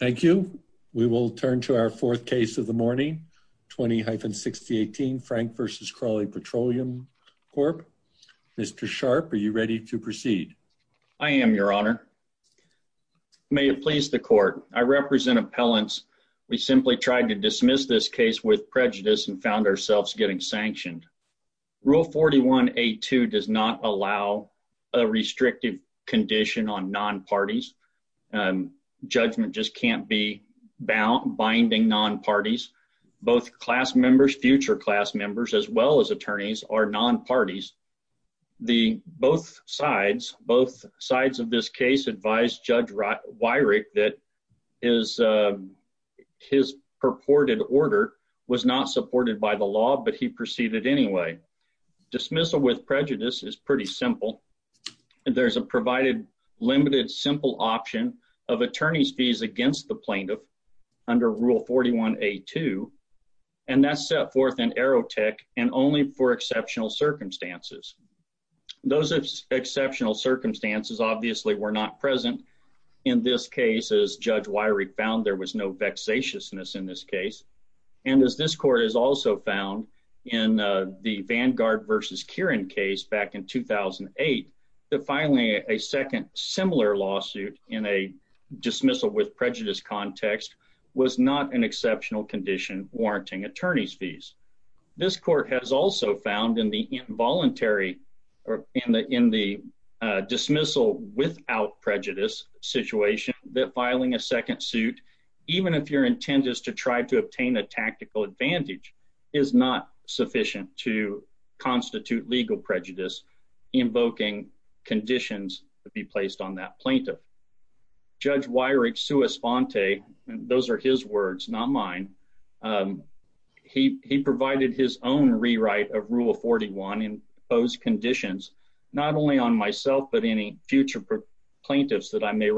Thank you. We will turn to our fourth case of the morning. 20-6018 Frank v. Crawley Petroleum Corp. Mr. Sharp, are you ready to proceed? I am, your honor. May it please the court. I represent appellants. We simply tried to dismiss this case with prejudice and found ourselves getting be binding non-parties. Both class members, future class members, as well as attorneys, are non-parties. Both sides of this case advised Judge Wyrick that his purported order was not supported by the law, but he proceeded anyway. Dismissal with prejudice is pretty simple. There's a provided limited simple option of attorney's fees against the plaintiff under Rule 41A2, and that's set forth in Aerotech and only for exceptional circumstances. Those exceptional circumstances obviously were not present in this case as Judge Wyrick found there was no vexatiousness in this case. And as this court has also found in the Vanguard v. Kieran case back in 2008, that filing a second similar lawsuit in a dismissal with prejudice context was not an exceptional condition warranting attorney's fees. This court has also found in the involuntary or in the dismissal without prejudice situation that filing a second advantage is not sufficient to constitute legal prejudice invoking conditions to be placed on that plaintiff. Judge Wyrick's sua sponte, those are his words, not mine, he provided his own rewrite of Rule 41 in those conditions, not only on myself, but any future plaintiffs that I may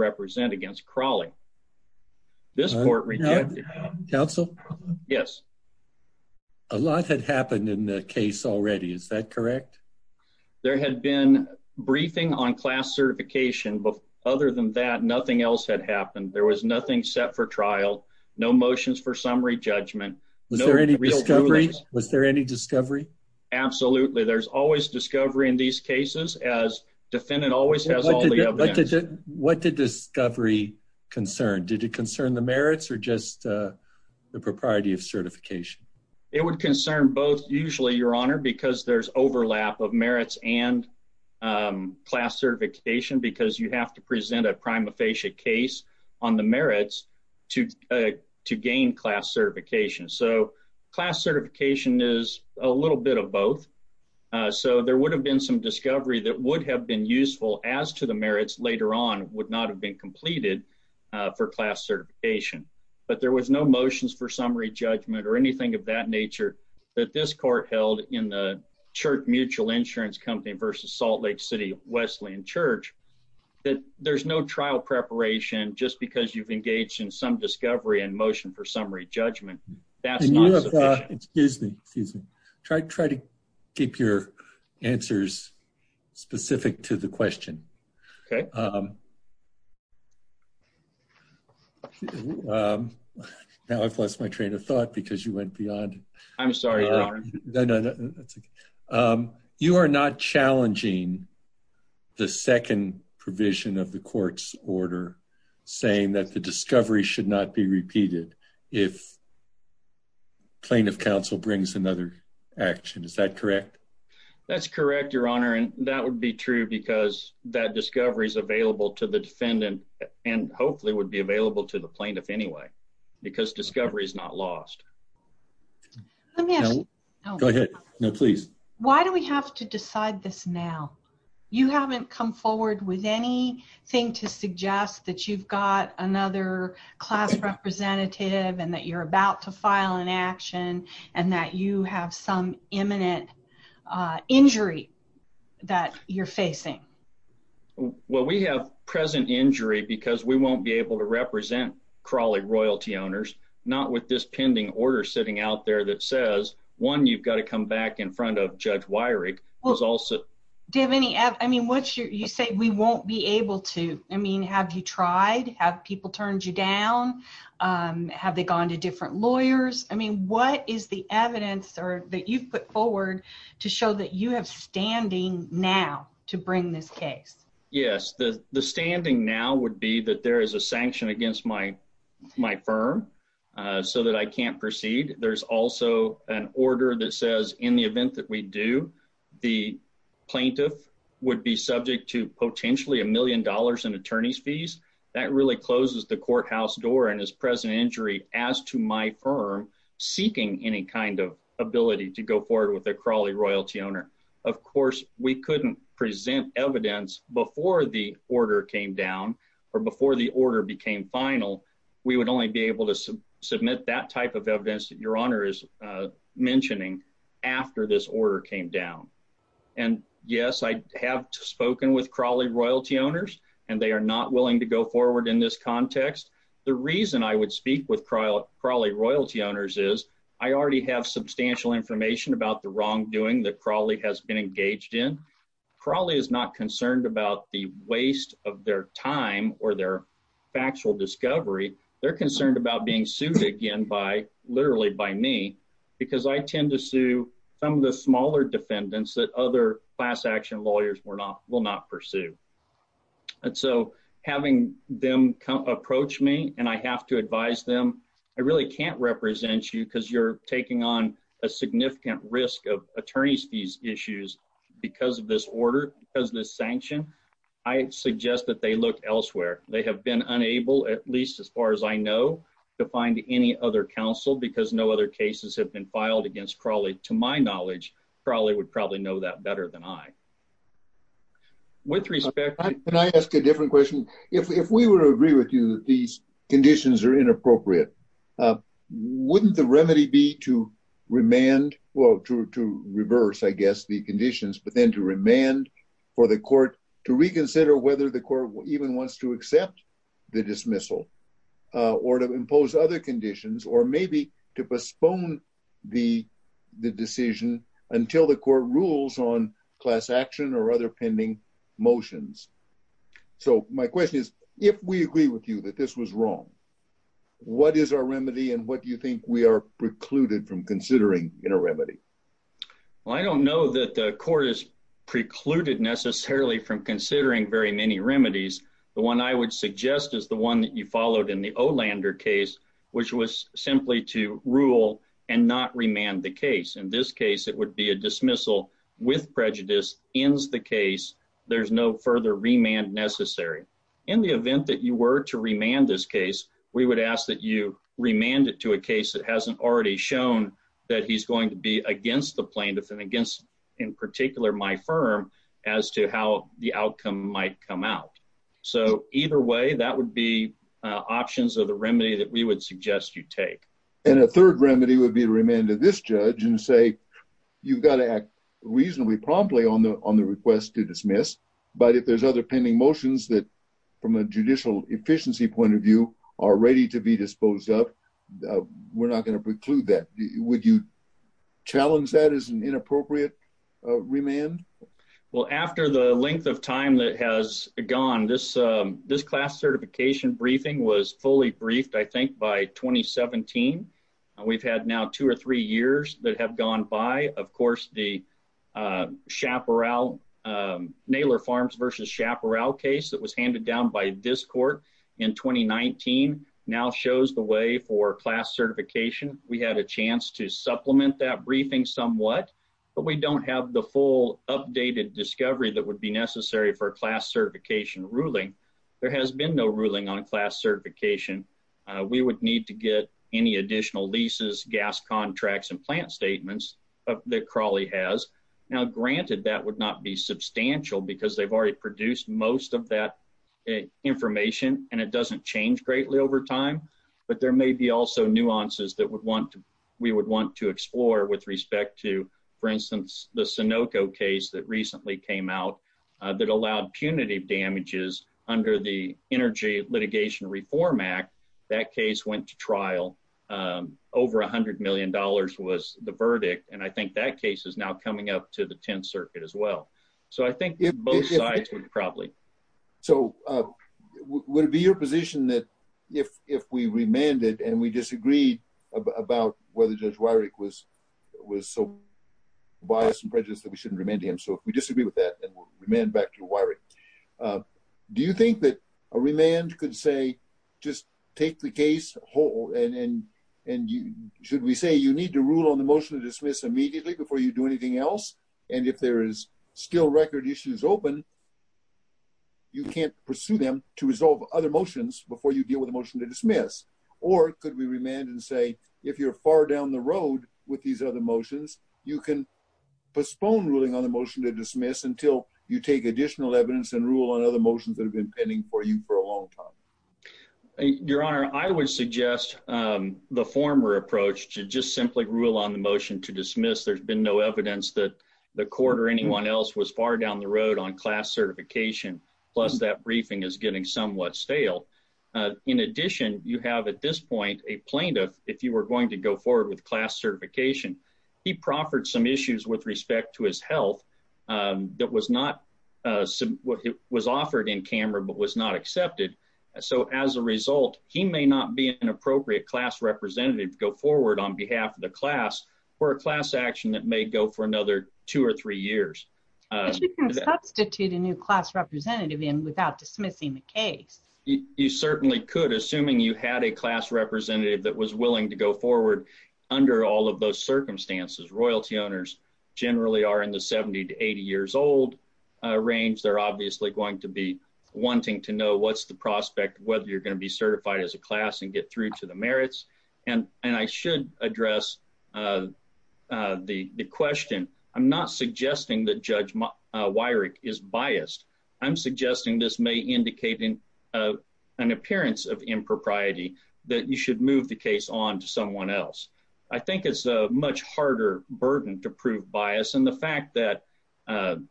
A lot had happened in the case already. Is that correct? There had been briefing on class certification, but other than that, nothing else had happened. There was nothing set for trial. No motions for summary judgment. Was there any discovery? Was there any discovery? Absolutely. There's always discovery in these cases as defendant always has all the evidence. What did discovery concern? Did it concern the merits or just the propriety of certification? It would concern both usually, Your Honor, because there's overlap of merits and class certification because you have to present a prima facie case on the merits to gain class certification. So class certification is a little bit of both. So there would have been some have been completed for class certification, but there was no motions for summary judgment or anything of that nature that this court held in the Church Mutual Insurance Company versus Salt Lake City Wesleyan Church. There's no trial preparation just because you've engaged in some discovery and motion for summary judgment. That's not sufficient. Excuse me. Try to keep your answers specific to the question. Now I've lost my train of thought because you went beyond. I'm sorry. You are not challenging the second provision of the court's order saying that the discovery should not be repeated if plaintiff counsel brings another action. Is that correct? That's correct, Your Honor, and that would be true because that discovery is available to the defendant and hopefully would be available to the plaintiff anyway because discovery is not lost. Why do we have to decide this now? You haven't come forward with anything to suggest that you've got another class representative and that you're about to file an action and that you have some imminent injury that you're facing. Well, we have present injury because we won't be able to represent Crawley royalty owners, not with this pending order sitting out there that says, one, you've got to come back in front of Judge Weyrich. Do you have any evidence? You say we won't be able to. Have you tried? Have people turned you down? Have they gone to different lawyers? What is the evidence that you've put forward to show that you have standing now to bring this case? Yes, the standing now would be that there is a sanction against my firm so that I can't proceed. There's also an order that says in the event that we do, the plaintiff would be subject to potentially a million dollars in attorney's fees. That really closes the courthouse door and is present injury as to my firm seeking any kind of ability to go forward with a Crawley royalty owner. Of course, we couldn't present evidence before the order came down or before the order became final. We would only be able to submit that type of evidence that Your Honor is mentioning after this order came down. And yes, I have spoken with Crawley royalty owners, and they are not willing to go forward in this context. The reason I would speak with Crawley royalty owners is I already have substantial information about the wrongdoing that Crawley has been engaged in. Crawley is not They're concerned about being sued again by literally by me because I tend to sue some of the smaller defendants that other class action lawyers will not pursue. And so having them approach me and I have to advise them, I really can't represent you because you're taking on a significant risk of attorney's fees issues because of this order, because of this sanction. I suggest that they look elsewhere. They have been unable, at least as far as I know, to find any other counsel because no other cases have been filed against Crawley. To my knowledge, Crawley would probably know that better than I. With respect... Can I ask a different question? If we were to agree with you that these conditions are inappropriate, wouldn't the remedy be to remand, well, to reverse, I guess, the conditions, but then to remand for the court to reconsider whether the court even wants to accept the dismissal or to impose other conditions or maybe to postpone the decision until the court rules on class action or other pending motions? So my question is, if we agree with you that this was wrong, what is our remedy and what do you think we are precluded from considering in a remedy? Well, I don't know that the court is precluded necessarily from considering very many remedies. The one I would suggest is the one that you followed in the Olander case, which was simply to rule and not remand the case. In this case, it would be a dismissal with prejudice, ends the case, there's no further remand necessary. In the event that you were to remand this case, we would ask you remand it to a case that hasn't already shown that he's going to be against the plaintiff and against, in particular, my firm as to how the outcome might come out. So either way, that would be options of the remedy that we would suggest you take. And a third remedy would be to remand to this judge and say, you've got to act reasonably promptly on the request to dismiss, but if there's other pending motions that, from a judicial efficiency point of view, are ready to be disposed of, we're not going to preclude that. Would you challenge that as an inappropriate remand? Well, after the length of time that has gone, this class certification briefing was fully briefed, I think, by 2017. We've had now two or three years that have gone by. Of course, the Naylor Farms v. Chaparral case that was handed down by this court in 2019 now shows the way for class certification. We had a chance to supplement that briefing somewhat, but we don't have the full updated discovery that would be necessary for a class certification ruling. There has been no ruling on class certification. We would need to get any that Crawley has. Now, granted, that would not be substantial because they've already produced most of that information, and it doesn't change greatly over time, but there may be also nuances we would want to explore with respect to, for instance, the Sunoco case that recently came out that allowed punitive damages under the Energy Litigation Reform Act. That case went to trial. Over $100 million was the verdict, and I think that case is now coming up to the 10th Circuit as well. So, I think both sides would probably. So, would it be your position that if we remanded and we disagreed about whether Judge Wyrick was so biased and prejudiced that we shouldn't remand him? So, if we disagree with that, then we'll remand back to Wyrick. Do you think that a remand could say, just take the case whole, and should we say you need to rule on the motion to dismiss immediately before you do anything else, and if there is still record issues open, you can't pursue them to resolve other motions before you deal with a motion to dismiss? Or could we remand and say, if you're far down the road with these other motions, you can postpone ruling on the motion to dismiss until you take additional evidence and rule on other motions that have been pending for you for a long time? Your Honor, I would suggest the former approach to just simply rule on the motion to dismiss. There's been no evidence that the court or anyone else was far down the road on class certification, plus that briefing is getting somewhat stale. In addition, you have at this point a plaintiff, if you were going to go forward with class not accepted. So, as a result, he may not be an appropriate class representative to go forward on behalf of the class for a class action that may go for another two or three years. But you can substitute a new class representative in without dismissing the case. You certainly could, assuming you had a class representative that was willing to go forward under all of those circumstances. Royalty owners generally are in the 70 to 80 years old range. They're obviously going to be wanting to know what's the prospect of whether you're going to be certified as a class and get through to the merits. And I should address the question. I'm not suggesting that Judge Wyrick is biased. I'm suggesting this may indicate an appearance of impropriety that you should move the case on to someone else. I think it's a much harder burden to prove bias. And the fact that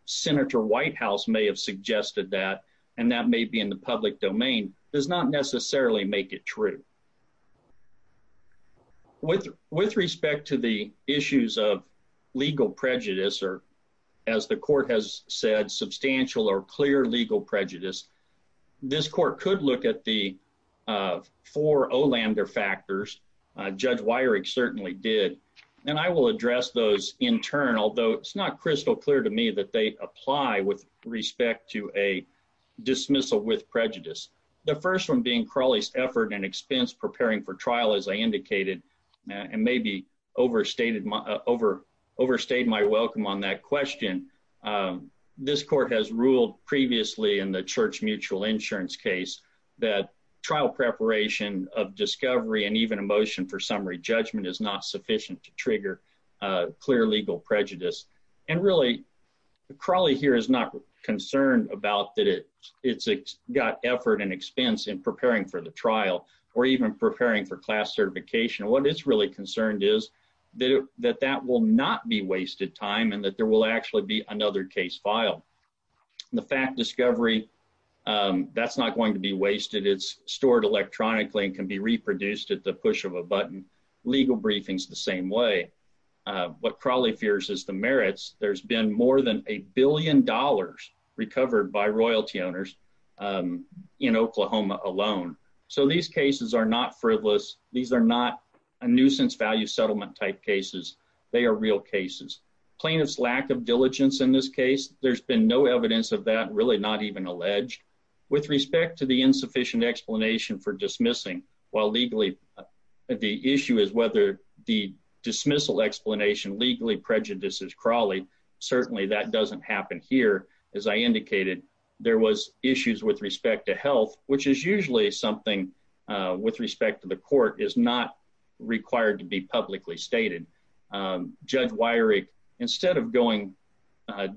Senator Whitehouse may have suggested that, and that may be in the public domain, does not necessarily make it true. With respect to the issues of legal prejudice, or as the court has said, substantial or clear legal prejudice, this court could look at the four O lambda factors. Judge Wyrick certainly did. And I will address those in turn, although it's not crystal clear to me that they apply with respect to a dismissal with prejudice. The first one being Crawley's effort and expense preparing for trial, as I indicated, and maybe overstayed my welcome on that question. This court has ruled previously in the church mutual insurance case that trial preparation of discovery and even motion for summary judgment is not sufficient to trigger clear legal prejudice. And really, Crawley here is not concerned about that it's got effort and expense in preparing for the trial, or even preparing for class certification. What it's really concerned is that that will not be wasted time and that there will actually be another case filed. The fact discovery, that's not going to be wasted. It's stored electronically and can be reproduced at the push of a button, legal briefings the same way. What Crawley fears is the merits, there's been more than a billion dollars recovered by royalty owners in Oklahoma alone. So these cases are not frivolous. These are not a nuisance value settlement type cases. They are real cases. Plaintiff's lack of diligence in this case, there's been no evidence of that, really not even alleged. With respect to the insufficient explanation for dismissing, while legally, the issue is whether the dismissal explanation legally prejudices Crawley. Certainly, that doesn't happen here. As I indicated, there was issues with respect to health, which is usually something with respect to the court is not required to be publicly stated. Judge Weyrich, instead of going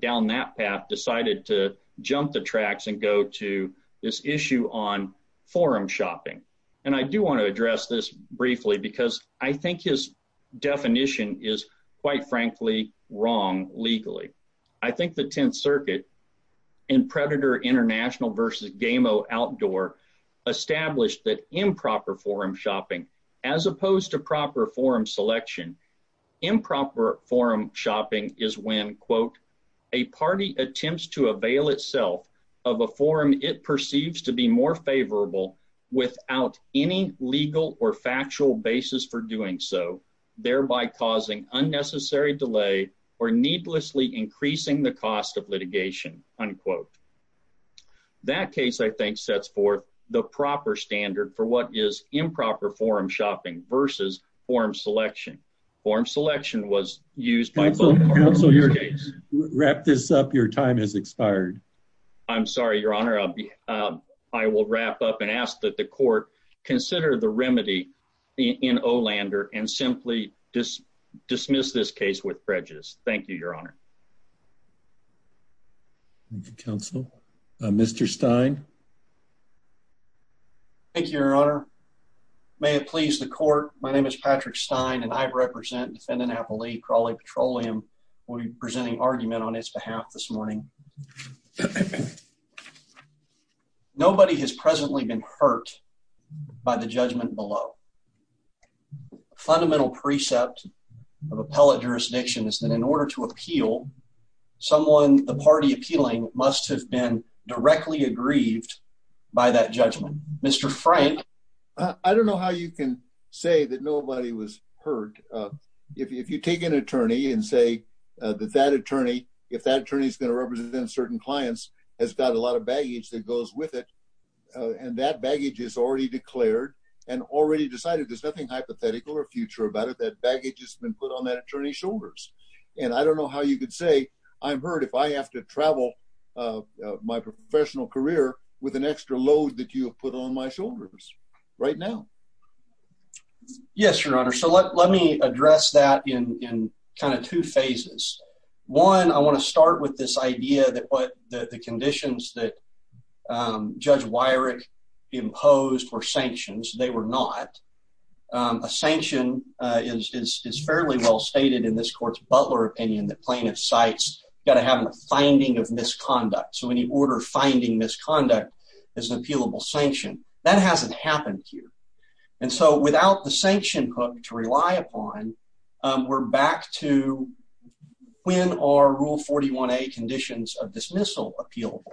down that path, decided to jump the tracks and go to this issue on forum shopping. And I do want to address this briefly, because I think his definition is, quite frankly, wrong legally. I think the 10th Circuit and Predator International versus Gameo Outdoor established that improper forum shopping, as opposed to proper forum selection, improper forum shopping is when, quote, a party attempts to avail itself of a forum it perceives to be more favorable without any legal or factual basis for doing so, thereby causing unnecessary delay or needlessly increasing the cost of litigation, unquote. That case, I think, sets forth the proper standard for what is improper forum shopping versus forum selection. Forum selection was used by both parties in this case. Counsel, wrap this up. Your time has expired. I'm sorry, Your Honor. I will wrap up and ask that the court consider the remedy in Olander and simply dismiss this case with prejudice. Thank you, Your Honor. Counsel. Mr. Stein. Thank you, Your Honor. May it please the court. My name is Patrick Stein, and I represent defendant Apple Lee, Crawley Petroleum, will be presenting argument on its behalf this morning. Nobody has presently been hurt by the judgment below. A fundamental precept of appellate jurisdiction is that in order to appeal, someone the party appealing must have been directly aggrieved by that judgment. Mr. Frank. I don't know how you can say that nobody was hurt. If you take an attorney and say that that attorney, if that attorney is going to represent certain clients, has got a lot of baggage that goes with it. And that baggage is already declared and already decided. There's nothing hypothetical or future about it. That baggage has been put on that attorney shoulders. And I don't know how you could say I'm hurt if I have to travel my professional career with an extra load that you have put on my shoulders right now. Yes, Your Honor. So let me address that in kind of two phases. One, I want to start with this idea that what the conditions that Judge Wyrick imposed were sanctions, they were not. A sanction is fairly well stated in this Butler opinion that plaintiff cites got to have a finding of misconduct. So when you order finding misconduct as an appealable sanction, that hasn't happened here. And so without the sanction hook to rely upon, we're back to when our Rule 41A conditions of dismissal appealable.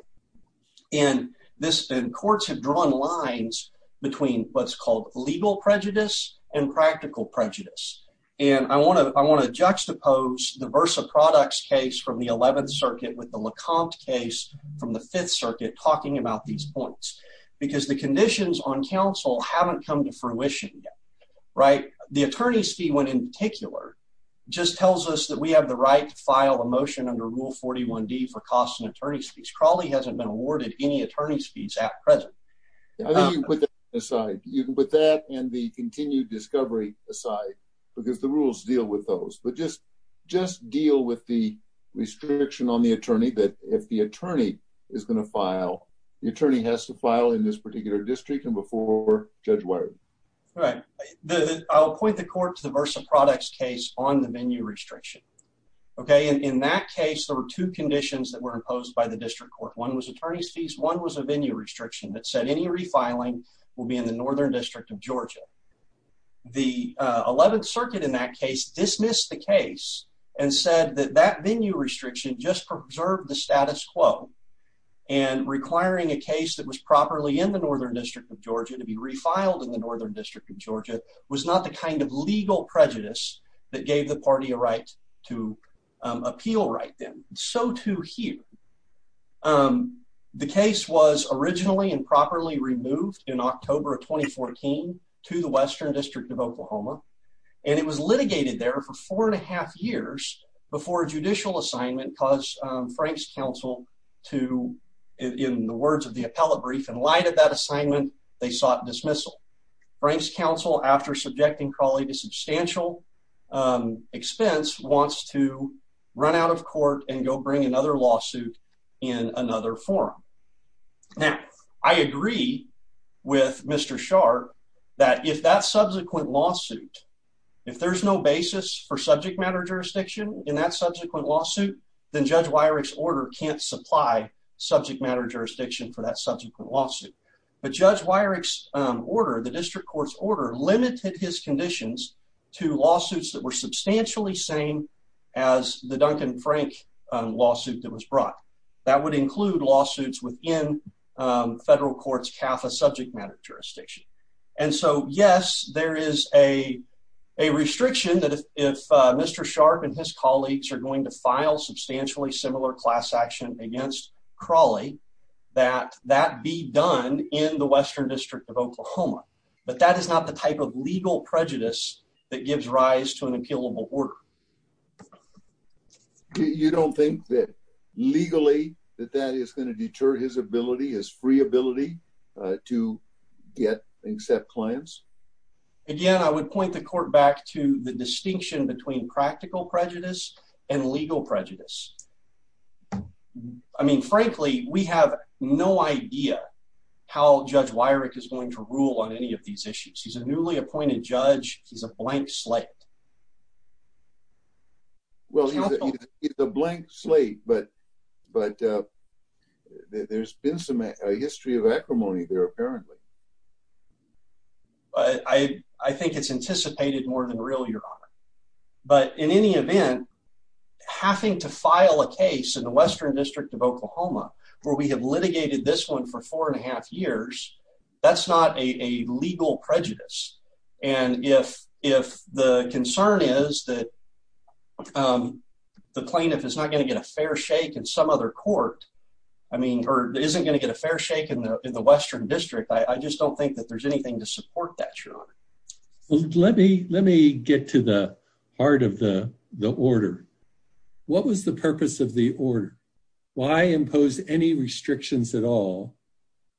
And this then courts have drawn lines between what's called legal prejudice and practical prejudice. And I want to juxtapose the Versa Products case from the 11th Circuit with the Lecomte case from the 5th Circuit talking about these points because the conditions on counsel haven't come to fruition yet, right? The attorney's fee, when in particular, just tells us that we have the right to file a motion under Rule 41D for costs and attorney's fees. Crawley hasn't been awarded any attorney's fees at present. I think you put that aside. You can put that and the continued discovery aside because the rules deal with those. But just deal with the restriction on the attorney that if the attorney is going to file, the attorney has to file in this particular district and before Judge Wyrick. Right. I'll point the court to the Versa Products case on the venue restriction. Okay. And in that case, there were two conditions that were imposed by the district court. One was attorney's fees. One was a venue restriction that said any refiling will be in the Northern District of Georgia. The 11th Circuit in that case dismissed the case and said that that venue restriction just preserved the status quo and requiring a case that was properly in the Northern District of Georgia to be refiled in the Northern District of Georgia was not the kind of legal prejudice that gave the party a right to appeal right then. So too here. The case was originally and properly removed in October of 2014 to the Western District of Oklahoma and it was litigated there for four and a half years before a judicial assignment caused Frank's counsel to, in the words of the appellate brief, in light of that assignment, they sought dismissal. Frank's counsel, after subjecting Crawley to substantial expense, wants to run out of court and go bring another lawsuit in another forum. Now, I agree with Mr. Sharpe that if that subsequent lawsuit, if there's no basis for subject matter jurisdiction in that subsequent lawsuit, then Judge Wyrick's order can't supply subject matter jurisdiction for that subsequent lawsuit. But Judge Wyrick's order, the district court's order, limited his substantially same as the Duncan Frank lawsuit that was brought. That would include lawsuits within federal court's CAFA subject matter jurisdiction. And so, yes, there is a restriction that if Mr. Sharpe and his colleagues are going to file substantially similar class action against Crawley, that that be done in the Western District of Oklahoma. But that is not the type of legal prejudice that gives rise to an appealable order. You don't think that legally that that is going to deter his ability, his free ability, to get and accept clients? Again, I would point the court back to the distinction between practical prejudice and legal prejudice. I mean, frankly, we have no idea how Judge Wyrick is going to rule on any of these issues. He's a newly appointed judge. He's a blank slate. Well, he's a blank slate, but there's been some history of acrimony there, apparently. I think it's anticipated more than real, Your Honor. But in any event, having to file a case in the Western District of Oklahoma where we have litigated this one for four and a half years, that's not a legal prejudice. And if the concern is that the plaintiff is not going to get a fair shake in some other court, I mean, or isn't going to get a fair shake in the Western District, I just don't think that there's anything to support that, Your Honor. Let me get to the heart of the order. What was the purpose of the order? Why impose any restrictions at all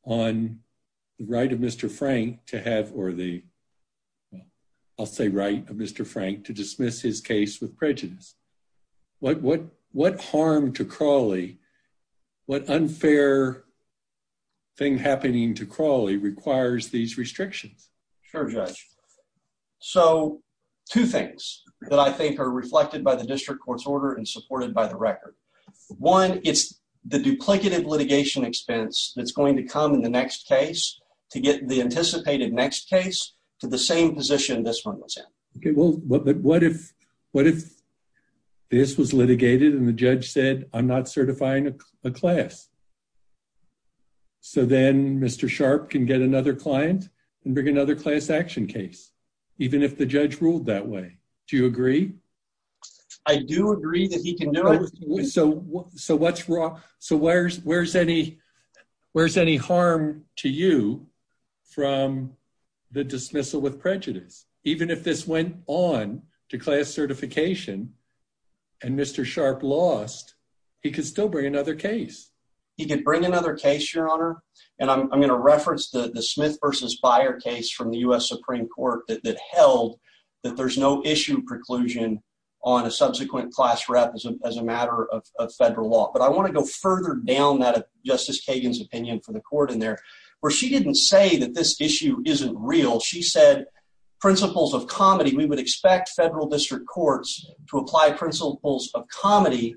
on the right of Mr. Frank to have, or the, I'll say right, of Mr. Frank to dismiss his case with prejudice? What harm to Crawley, what unfair thing happening to Crawley requires these restrictions? Sure, Judge. So, two things that I think are reflected by the district court's order and supported by the record. One, it's the duplicative litigation expense that's going to come in the next case to get the anticipated next case to the same position this one was in. Okay, well, but what if this was litigated and the judge said, I'm not certifying a class? So, then Mr. Sharp can get another client and bring another class action case, even if the judge ruled that way. Do you agree? I do agree that he can know. So, what's wrong? So, where's any harm to you from the dismissal with prejudice, even if this went on to class certification and Mr. Sharp lost, he could still bring another case. He could bring another case, Your Honor. And I'm going to reference the Smith versus Byer case from the US Supreme Court that held that there's no issue preclusion on a subsequent class rep as a matter of federal law. But I want to go further down that Justice Kagan's opinion for the court in there, where she didn't say that this issue isn't real. She said, principles of comedy, we would expect federal district courts to apply principles of comedy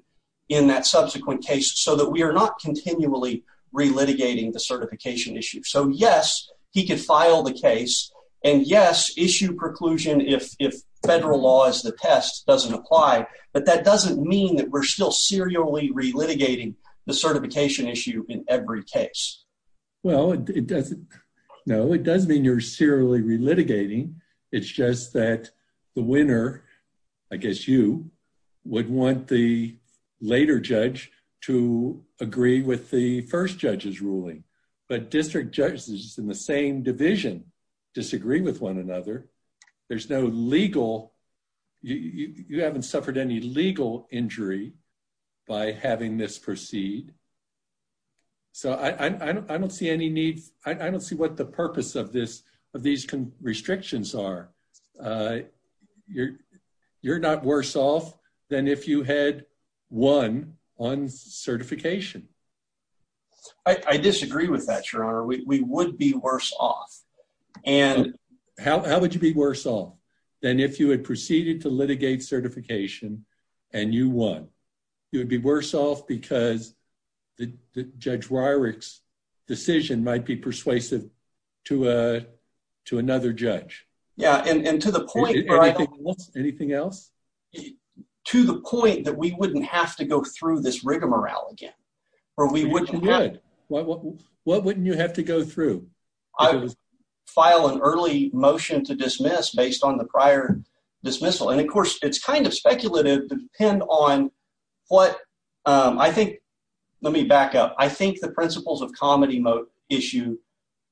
in that subsequent case so that we are not continually re-litigating the certification issue. So, yes, he could file the case. And yes, issue preclusion if federal law is the test doesn't apply. But that doesn't mean that we're still serially re-litigating the certification issue in every case. Well, it doesn't. No, it doesn't mean you're serially re-litigating. It's just that the winner, I guess you, would want the later judge to agree with the first judge's ruling. But district judges in the same division disagree with one another. There's no legal, you haven't suffered any legal injury by having this proceed. So I don't see any need, I don't see what the purpose of this, of these restrictions are. You're not worse off than if you had won on certification. I disagree with that, Your Honor. We would be worse off. And how would you be worse off than if you had proceeded to litigate certification and you won? You would be worse off because the Judge Wyrick's decision might be persuasive to another judge. Yeah, and to the point... Anything else? To the point that we wouldn't have to go through this rigmarole again. Or we wouldn't have... You would. What wouldn't you have go through? I would file an early motion to dismiss based on the prior dismissal. And of course, it's kind of speculative depending on what... I think, let me back up, I think the principles of comedy issue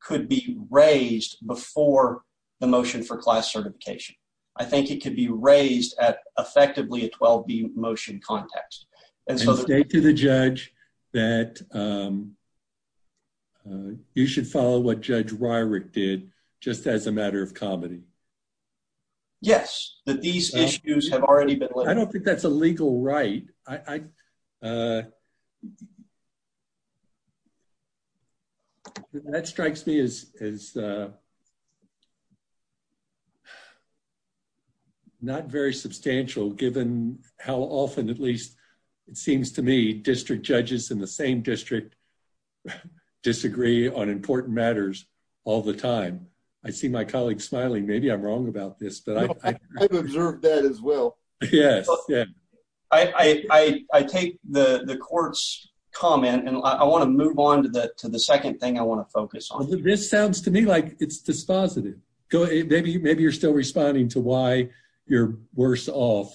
could be raised before the motion for class certification. I think it could be raised at effectively a 12-B motion context. And state to the judge that you should follow what Judge Wyrick did just as a matter of comedy. Yes, that these issues have already been... I don't think that's a legal right. That strikes me as... Not very substantial given how often at least it seems to me district judges in the same district disagree on important matters all the time. I see my colleague smiling, maybe I'm wrong about this, but I... I've observed that as well. Yes. I take the court's comment and I want to move on to the second thing I want to focus on. This sounds to me like it's dispositive. Maybe you're still responding to why you're worse off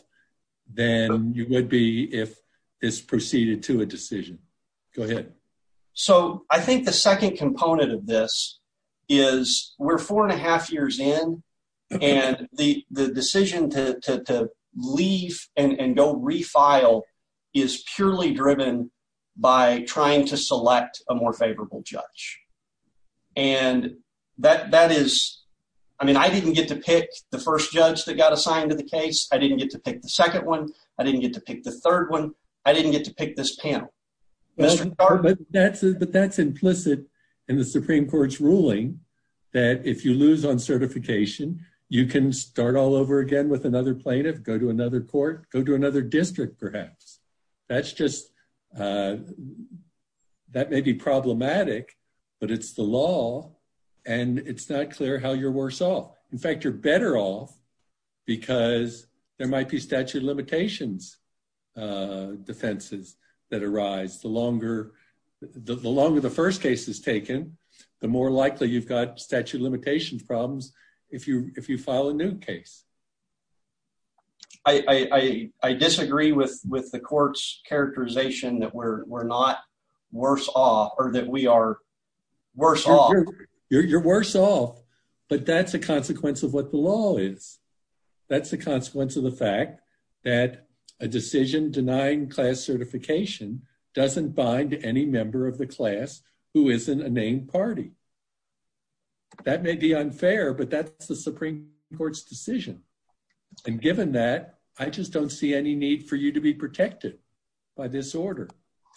than you would be if this proceeded to a decision. Go ahead. I think the second component of this is we're four and a half years in and the decision to leave and go refile is purely driven by trying to select a more favorable judge. And that is... I mean, I didn't get to pick the first judge that got assigned to the case. I didn't get to pick the second one. I didn't get to pick the third one. I didn't get to pick this panel. But that's implicit in the Supreme Court's ruling that if you lose on certification, you can start all over again with another plaintiff, go to another court, go to another district perhaps. That's just... that may be problematic, but it's the law and it's not clear how you're worse off. In fact, you're better off because there might be statute of limitations defenses that arise. The longer the first case is taken, the more likely you've got problems if you file a new case. I disagree with the court's characterization that we're not worse off or that we are worse off. You're worse off, but that's a consequence of what the law is. That's the consequence of the fact that a decision denying class certification doesn't bind any member of the class who isn't a named party. That may be unfair, but that's the Supreme Court's decision. And given that, I just don't see any need for you to be protected by this order.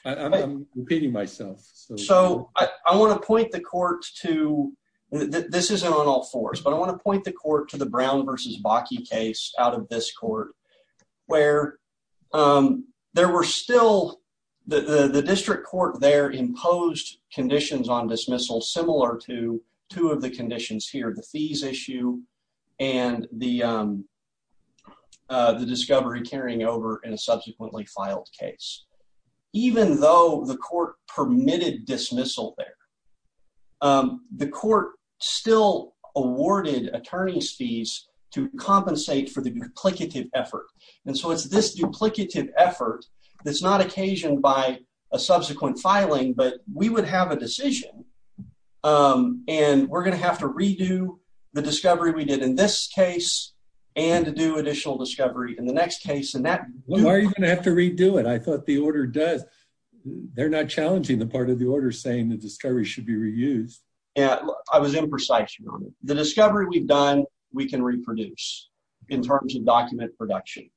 I'm repeating myself. So I want to point the court to... this isn't on all fours, but I want to point the court to the Brown versus Bakke case out of this court where there were still... the district court there imposed conditions on the fees issue and the discovery carrying over in a subsequently filed case. Even though the court permitted dismissal there, the court still awarded attorney's fees to compensate for the duplicative effort. And so it's this duplicative effort that's not occasioned a subsequent filing, but we would have a decision and we're going to have to redo the discovery we did in this case and to do additional discovery in the next case. Why are you going to have to redo it? I thought the order does... they're not challenging the part of the order saying the discovery should be reused. Yeah, I was imprecise. The discovery we've done, we can reproduce in terms of document production.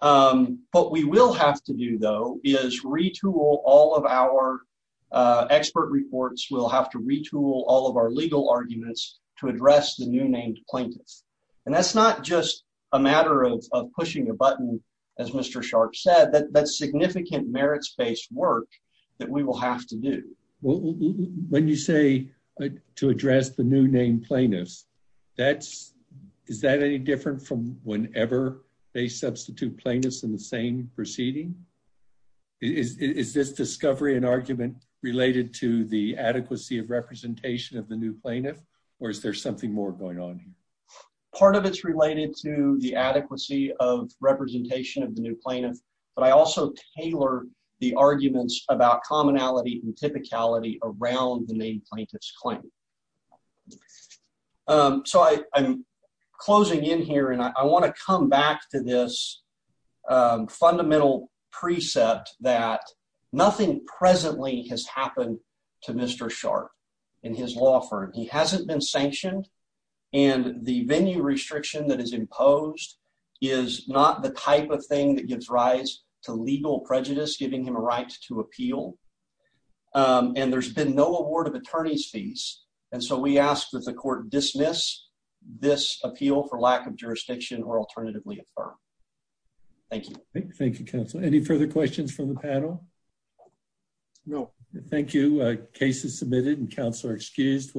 What we will have to do, though, is retool all of our expert reports. We'll have to retool all of our legal arguments to address the new named plaintiffs. And that's not just a matter of pushing a button, as Mr. Sharpe said, that's significant merits-based work that we will have to do. When you say to address the new named plaintiffs, that's... is that any different from whenever they substitute plaintiffs in the same proceeding? Is this discovery and argument related to the adequacy of representation of the new plaintiff, or is there something more going on here? Part of it's related to the adequacy of representation of the new plaintiff, but I also tailor the arguments about commonality and typicality around the named plaintiff's claim. So I'm closing in here, and I want to come back to this fundamental precept that nothing presently has happened to Mr. Sharpe in his law firm. He hasn't been sanctioned, and the venue restriction that is imposed is not the type of thing that gives rise to legal bias. And so we ask that the court dismiss this appeal for lack of jurisdiction or alternatively affirm. Thank you. Thank you, counsel. Any further questions from the panel? No. Thank you. Case is submitted and counsel are excused.